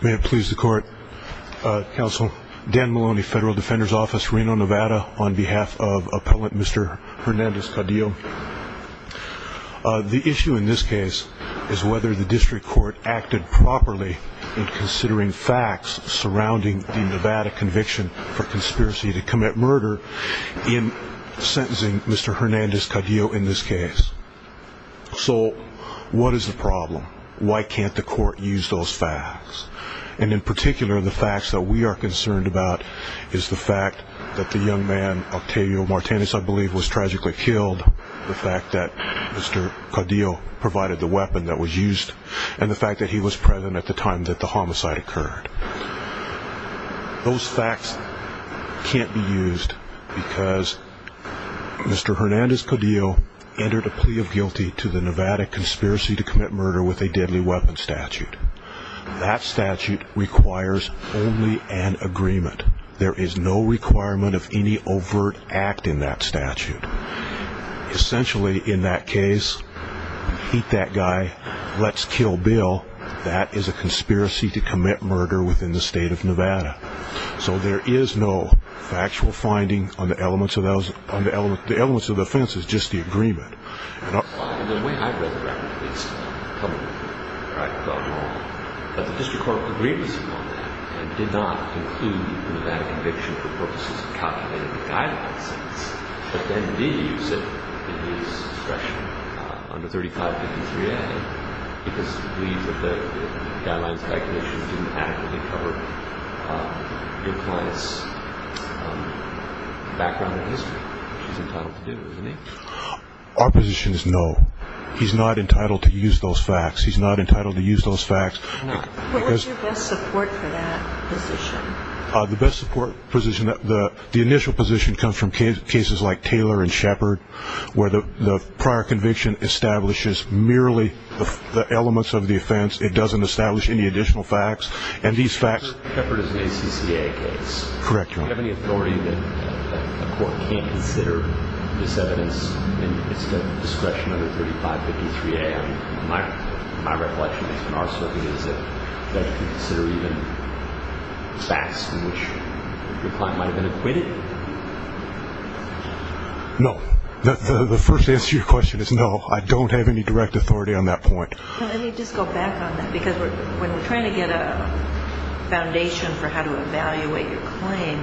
May it please the Court, Counsel, Dan Maloney, Federal Defender's Office, Reno, Nevada, on behalf of Appellant Mr. Hernandez-Caudillo. The issue in this case is whether the District Court acted properly in considering facts surrounding the Nevada conviction for conspiracy to commit murder in sentencing Mr. Hernandez-Caudillo in this case. So, what is the problem? Why can't the Court use those facts? And in particular, the facts that we are concerned about is the fact that the young man, Octavio Martinez, I believe, was tragically killed, the fact that Mr. Caudillo provided the weapon that was used, and the fact that he was present at the time that the homicide occurred. Those facts can't be used because Mr. Hernandez-Caudillo entered a plea of guilty to the Nevada conspiracy to commit murder with a deadly weapon statute. That statute requires only an agreement. There is no requirement of any overt act in that statute. Essentially, in that case, beat that guy, let's kill Bill, that is a conspiracy to commit murder within the State of Nevada. So there is no factual finding on the elements of those, the elements of the offense is just the agreement. In the way I read the record, at least publicly, where I've gone wrong, but the District Court agrees upon that, and did not include the Nevada conviction for purposes of calculating the guidelines since. But then, indeed, you said in his expression, under 3553A, he does believe that the guidelines calculations didn't adequately cover your client's background in history. He's entitled to do it, isn't he? Our position is no. He's not entitled to use those facts. He's not entitled to use those facts. What was your best support for that position? The best support position, the initial position comes from cases like Taylor and Shepard, where the prior conviction establishes merely the elements of the offense, it doesn't establish any additional facts. Shepard and Shepard is an ACCA case. Correct. Do you have any authority that a court can't consider this evidence in the discretion of the 3553A? My recollection is, in our circuit, is it that you can consider even facts in which your client might have been acquitted? No. The first answer to your question is no, I don't have any direct authority on that point. Let me just go back on that, because when we're trying to get a foundation for how to evaluate your claim,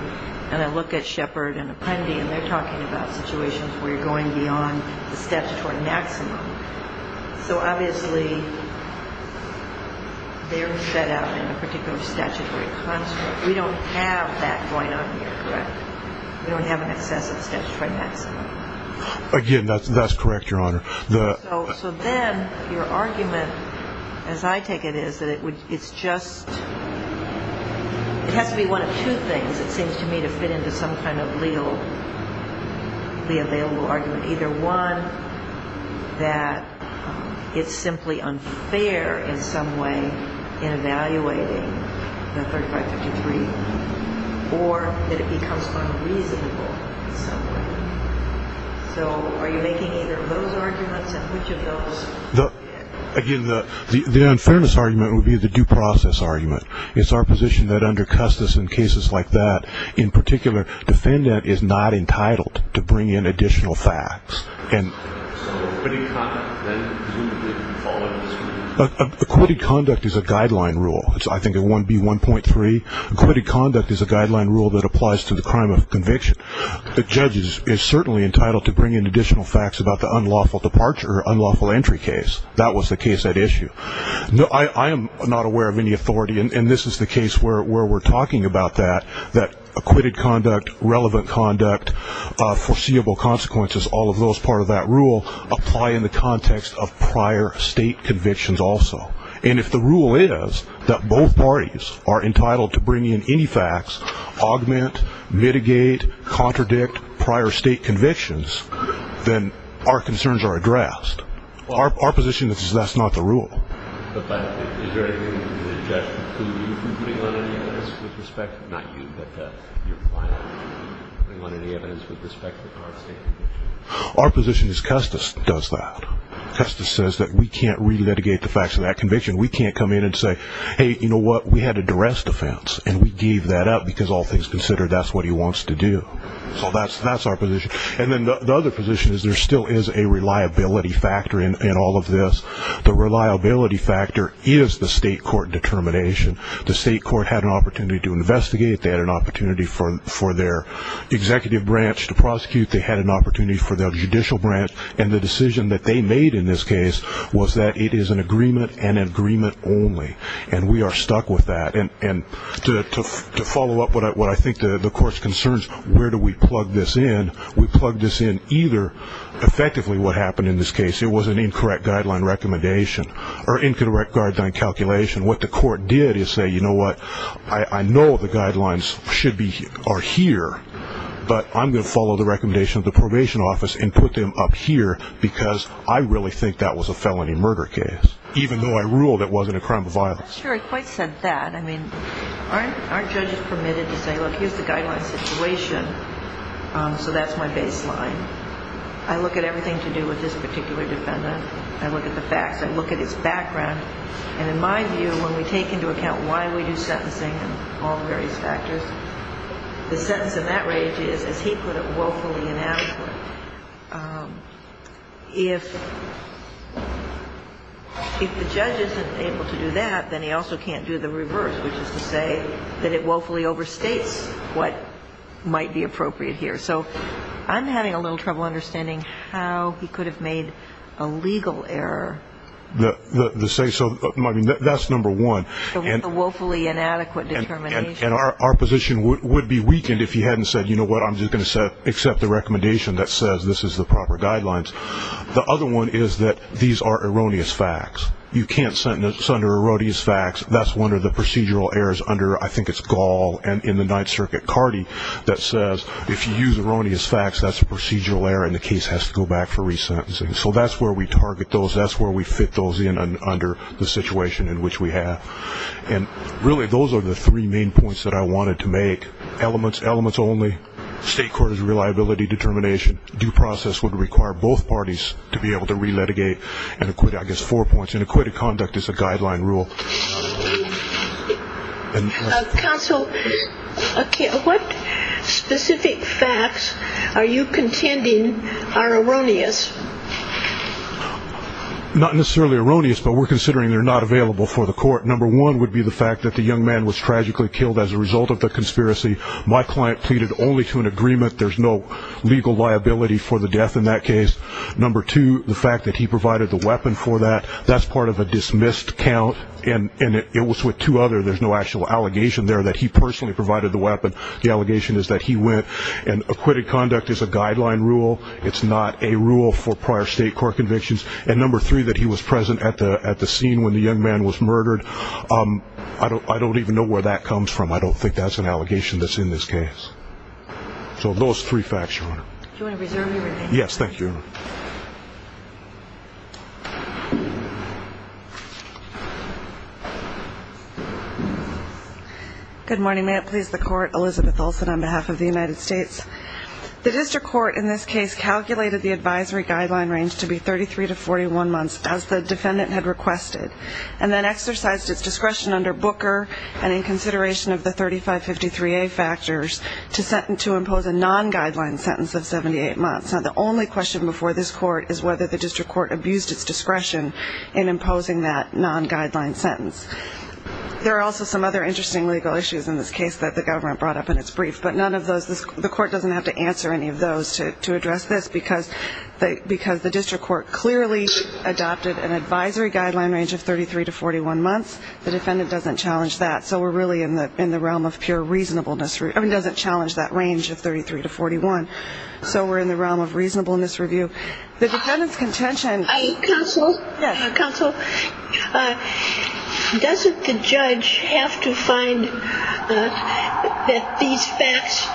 and I look at Shepard and Apprendi, and they're talking about situations where you're going beyond the statutory maximum. So, obviously, they're set out in a particular statutory construct. We don't have that going on here, correct? We don't have an excessive statutory maximum. Again, that's correct, Your Honor. So then your argument, as I take it, is that it's just – it has to be one of two things, it seems to me, to fit into some kind of legally available argument. Either one, that it's simply unfair in some way in evaluating the 3553, or that it becomes unreasonable in some way. So are you making either of those arguments, and which of those? Again, the unfairness argument would be the due process argument. It's our position that under Custis and cases like that, in particular, defendant is not entitled to bring in additional facts. So acquitted conduct, then, would be the following. Acquitted conduct is a guideline rule. It's, I think, 1B1.3. The judge is certainly entitled to bring in additional facts about the unlawful departure or unlawful entry case. That was the case at issue. I am not aware of any authority, and this is the case where we're talking about that, that acquitted conduct, relevant conduct, foreseeable consequences, all of those part of that rule, apply in the context of prior state convictions also. And if the rule is that both parties are entitled to bring in any facts, augment, mitigate, contradict prior state convictions, then our concerns are addressed. Our position is that that's not the rule. But is there anything that the judge could be putting on any evidence with respect to, not you, but your client, putting on any evidence with respect to prior state convictions? Our position is Custis does that. Custis says that we can't relitigate the facts of that conviction. We can't come in and say, hey, you know what, we had a duress defense, and we gave that up because all things considered, that's what he wants to do. So that's our position. And then the other position is there still is a reliability factor in all of this. The reliability factor is the state court determination. The state court had an opportunity to investigate. They had an opportunity for their executive branch to prosecute. They had an opportunity for their judicial branch. And the decision that they made in this case was that it is an agreement and agreement only. And we are stuck with that. And to follow up what I think the court's concerns, where do we plug this in, we plug this in either effectively what happened in this case, it was an incorrect guideline recommendation or incorrect guideline calculation. What the court did is say, you know what, I know the guidelines are here, but I'm going to follow the recommendation of the probation office and put them up here because I really think that was a felony murder case, even though I ruled it wasn't a crime of violence. I'm not sure I quite said that. I mean, aren't judges permitted to say, look, here's the guideline situation, so that's my baseline. I look at everything to do with this particular defendant. I look at the facts. I look at his background. And in my view, when we take into account why we do sentencing and all the various factors, the sentence in that range is, as he put it, woefully inadequate. If the judge isn't able to do that, then he also can't do the reverse, which is to say that it woefully overstates what might be appropriate here. So I'm having a little trouble understanding how he could have made a legal error. So that's number one. The woefully inadequate determination. And our position would be weakened if he hadn't said, you know what, I'm just going to accept the recommendation that says this is the proper guidelines. The other one is that these are erroneous facts. You can't sentence under erroneous facts. That's one of the procedural errors under, I think it's Gaul and in the Ninth Circuit, Cardi that says if you use erroneous facts, that's a procedural error, and the case has to go back for resentencing. So that's where we target those. That's where we fit those in under the situation in which we have. And really those are the three main points that I wanted to make. Elements, elements only. State court is reliability determination. Due process would require both parties to be able to re-litigate and acquit, I guess, four points. And acquitted conduct is a guideline rule. Counsel, what specific facts are you contending are erroneous? Not necessarily erroneous, but we're considering they're not available for the court. Number one would be the fact that the young man was tragically killed as a result of the conspiracy. My client pleaded only to an agreement. There's no legal liability for the death in that case. Number two, the fact that he provided the weapon for that. That's part of a dismissed count, and it was with two others. There's no actual allegation there that he personally provided the weapon. The allegation is that he went. And acquitted conduct is a guideline rule. It's not a rule for prior state court convictions. And number three, that he was present at the scene when the young man was murdered. I don't even know where that comes from. I don't think that's an allegation that's in this case. So those three facts, Your Honor. Do you want to reserve your remainder? Yes, thank you. Good morning. May it please the Court. Elizabeth Olsen on behalf of the United States. The district court in this case calculated the advisory guideline range to be 33 to 41 months, as the defendant had requested, and then exercised its discretion under Booker and in consideration of the 3553A factors to impose a non-guideline sentence of 78 months. Now, the only question before this court is whether the district court abused its discretion in imposing that non-guideline sentence. There are also some other interesting legal issues in this case that the government brought up in its brief, but none of those, the court doesn't have to answer any of those to address this because the district court clearly adopted an advisory guideline range of 33 to 41 months. The defendant doesn't challenge that. So we're really in the realm of pure reasonableness. I mean, it doesn't challenge that range of 33 to 41. So we're in the realm of reasonableness review. The defendant's contention. Counsel? Yes. Counsel, doesn't the judge have to find that these facts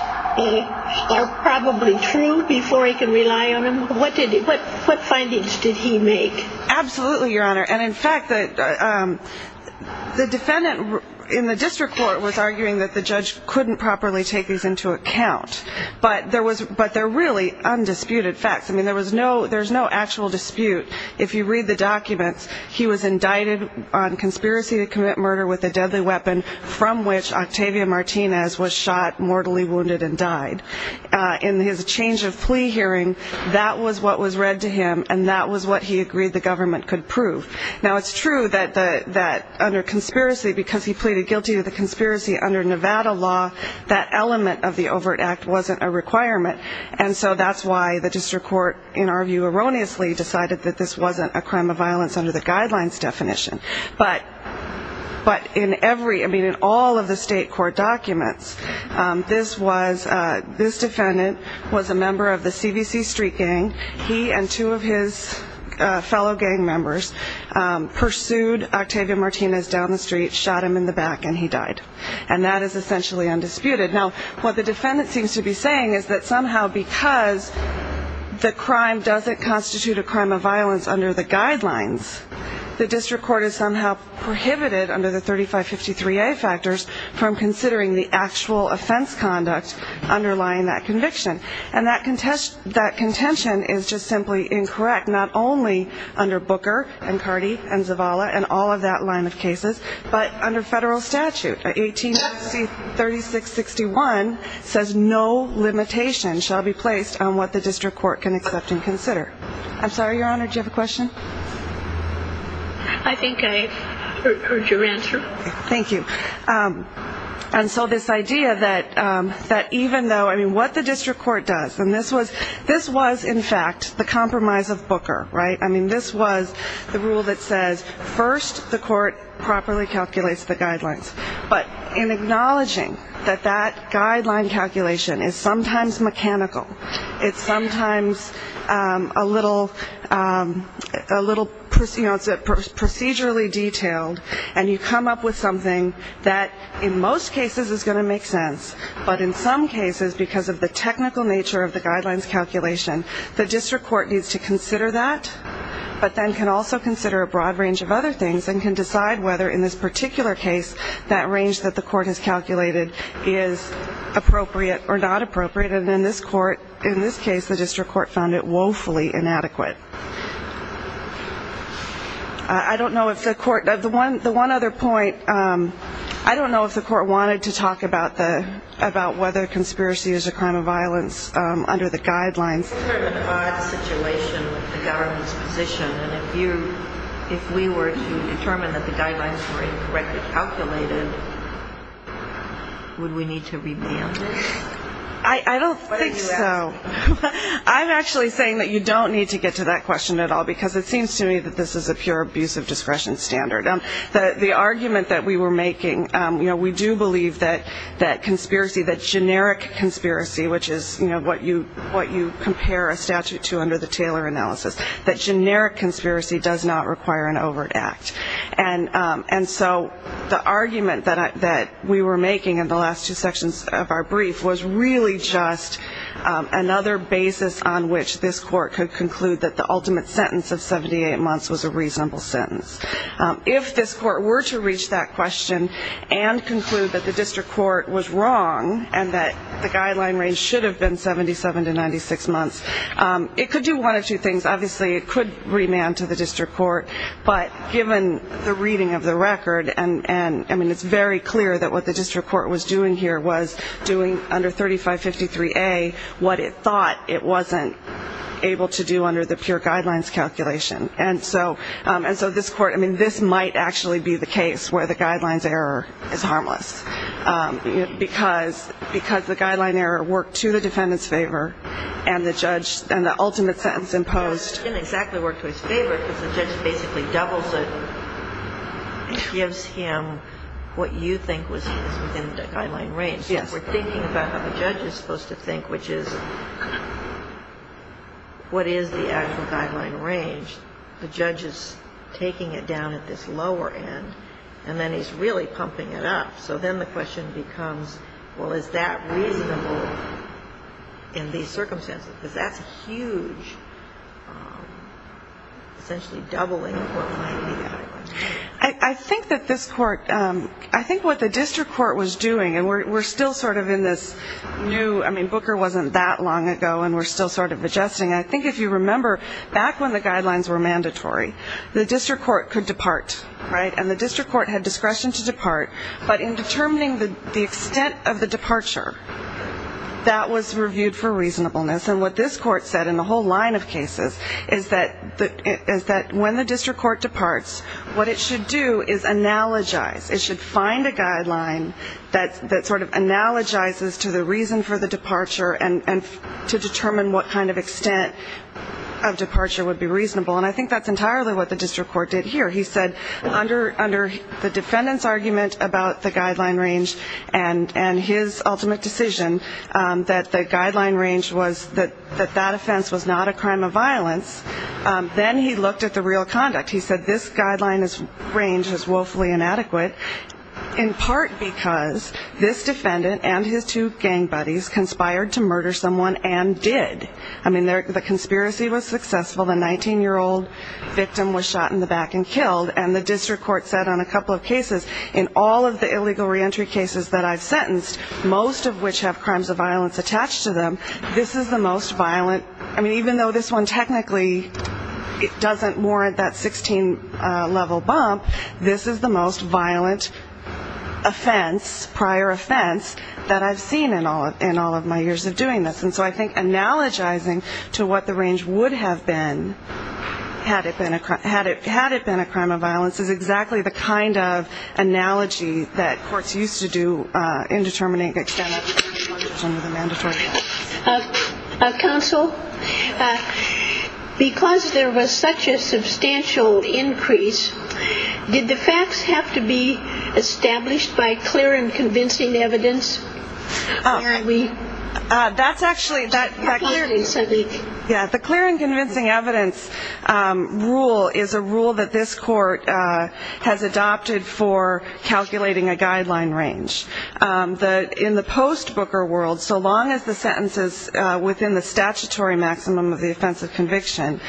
are probably true before he can rely on them? What findings did he make? Absolutely, Your Honor. And, in fact, the defendant in the district court was arguing that the judge couldn't properly take these into account. But they're really undisputed facts. I mean, there's no actual dispute. If you read the documents, he was indicted on conspiracy to commit murder with a deadly weapon, from which Octavia Martinez was shot, mortally wounded, and died. In his change of plea hearing, that was what was read to him, and that was what he agreed the government could prove. Now, it's true that under conspiracy, because he pleaded guilty to the conspiracy under Nevada law, that element of the overt act wasn't a requirement. And so that's why the district court, in our view, erroneously decided that this wasn't a crime of violence under the guidelines definition. But in all of the state court documents, this defendant was a member of the CBC street gang. He and two of his fellow gang members pursued Octavia Martinez down the street, shot him in the back, and he died. And that is essentially undisputed. Now, what the defendant seems to be saying is that somehow, because the crime doesn't constitute a crime of violence under the guidelines, the district court has somehow prohibited, under the 3553A factors, from considering the actual offense conduct underlying that conviction. And that contention is just simply incorrect, not only under Booker and Cardi and Zavala and all of that line of cases, but under federal statute. 1836.61 says no limitation shall be placed on what the district court can accept and consider. I'm sorry, Your Honor, did you have a question? I think I heard your answer. Thank you. And so this idea that even though, I mean, what the district court does, and this was, in fact, the compromise of Booker, right? I mean, this was the rule that says first the court properly calculates the guidelines. But in acknowledging that that guideline calculation is sometimes mechanical, it's sometimes a little procedurally detailed, and you come up with something that in most cases is going to make sense, but in some cases, because of the technical nature of the guidelines calculation, the district court needs to consider that, but then can also consider a broad range of other things and can decide whether in this particular case that range that the court has calculated is appropriate or not appropriate. And in this case, the district court found it woefully inadequate. I don't know if the court ñ the one other point, I don't know if the court wanted to talk about whether conspiracy is a crime of violence under the guidelines. It's sort of an odd situation with the government's position, and if we were to determine that the guidelines were incorrectly calculated, would we need to revamp? I don't think so. I'm actually saying that you don't need to get to that question at all because it seems to me that this is a pure abuse of discretion standard. The argument that we were making, you know, we do believe that conspiracy, that generic conspiracy, which is what you compare a statute to under the Taylor analysis, that generic conspiracy does not require an overt act. And so the argument that we were making in the last two sections of our brief was really just another basis on which this court could conclude that the ultimate sentence of 78 months was a reasonable sentence. If this court were to reach that question and conclude that the district court was wrong and that the guideline range should have been 77 to 96 months, it could do one of two things. Obviously, it could remand to the district court, but given the reading of the record, I mean, it's very clear that what the district court was doing here was doing under 3553A what it thought it wasn't able to do under the pure guidelines calculation. And so this court, I mean, this might actually be the case where the guidelines error is harmless because the guideline error worked to the defendant's favor and the ultimate sentence imposed. It didn't exactly work to his favor because the judge basically doubles it, gives him what you think was within the guideline range. Yes. We're thinking about how the judge is supposed to think, which is what is the actual guideline range. The judge is taking it down at this lower end, and then he's really pumping it up. So then the question becomes, well, is that reasonable in these circumstances? Because that's a huge, essentially doubling of what might be the guideline range. I think that this court, I think what the district court was doing, and we're still sort of in this new, I mean, Booker wasn't that long ago, and we're still sort of adjusting. I think if you remember, back when the guidelines were mandatory, the district court could depart, right, and the district court had discretion to depart, but in determining the extent of the departure, that was reviewed for reasonableness. And what this court said in the whole line of cases is that when the district court departs, what it should do is analogize. It should find a guideline that sort of analogizes to the reason for the departure and to determine what kind of extent of departure would be reasonable. And I think that's entirely what the district court did here. He said under the defendant's argument about the guideline range and his ultimate decision, that the guideline range was that that offense was not a crime of violence, then he looked at the real conduct. He said this guideline range is woefully inadequate, in part because this defendant and his two gang buddies conspired to murder someone and did. I mean, the conspiracy was successful. The 19-year-old victim was shot in the back and killed. And the district court said on a couple of cases, in all of the illegal reentry cases that I've sentenced, most of which have crimes of violence attached to them, this is the most violent. I mean, even though this one technically doesn't warrant that 16-level bump, this is the most violent offense, prior offense, that I've seen in all of my years of doing this. And so I think analogizing to what the range would have been had it been a crime of violence is exactly the kind of analogy that courts used to do in determining the extent of the mandatory offense. Counsel, because there was such a substantial increase, did the facts have to be established by clear and convincing evidence? That's actually the clear and convincing evidence rule is a rule that this court has adopted for calculating a guideline range. In the post-Booker world, so long as the sentence is within the statutory maximum of the offense of conviction,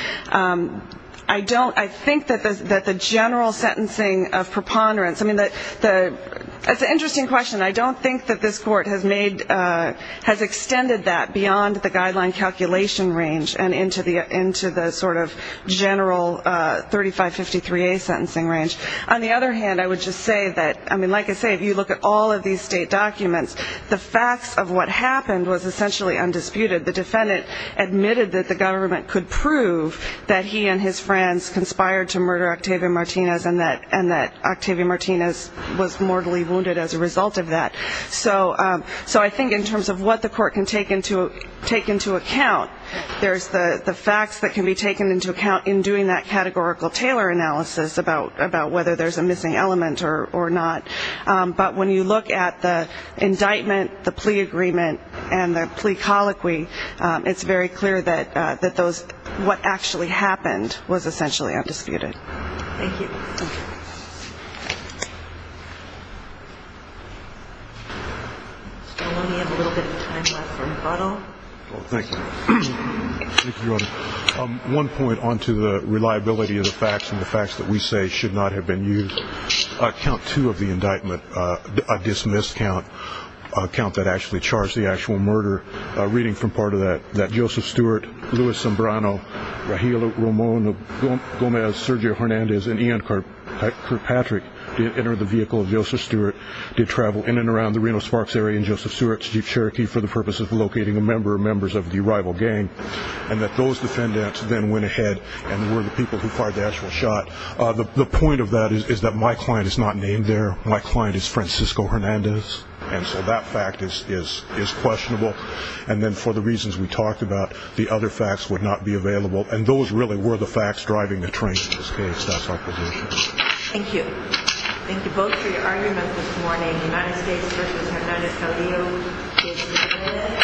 I think that the general sentencing of preponderance, I mean, that's an interesting question. I don't think that this court has extended that beyond the guideline calculation range and into the sort of general 3553A sentencing range. On the other hand, I would just say that, I mean, like I say, if you look at all of these state documents, the facts of what happened was essentially undisputed. The defendant admitted that the government could prove that he and his friends conspired to murder Octavia Martinez and that Octavia Martinez was mortally wounded as a result of that. So I think in terms of what the court can take into account, there's the facts that can be taken into account in doing that categorical Taylor analysis about whether there's a missing element or not. But when you look at the indictment, the plea agreement, and the plea colloquy, it's very clear that what actually happened was essentially undisputed. Thank you. We have a little bit of time left for rebuttal. Thank you. One point on to the reliability of the facts and the facts that we say should not have been used. Count two of the indictment, a dismissed count, a count that actually charged the actual murder, reading from part of that, that Joseph Stewart, Luis Zambrano, Raheel Ramon, Gomez, Sergio Hernandez, and Ian Kirkpatrick entered the vehicle of Joseph Stewart, did travel in and around the Reno Sparks area and Joseph Stewart's Jeep Cherokee for the purpose of locating members of the rival gang, and that those defendants then went ahead and were the people who fired the actual shot. The point of that is that my client is not named there. My client is Francisco Hernandez. And so that fact is questionable. And then for the reasons we talked about, the other facts would not be available. And those really were the facts driving the train. In this case, that's our position. Thank you. Thank you both for your argument this morning. The United States versus Hernandez-Carrillo.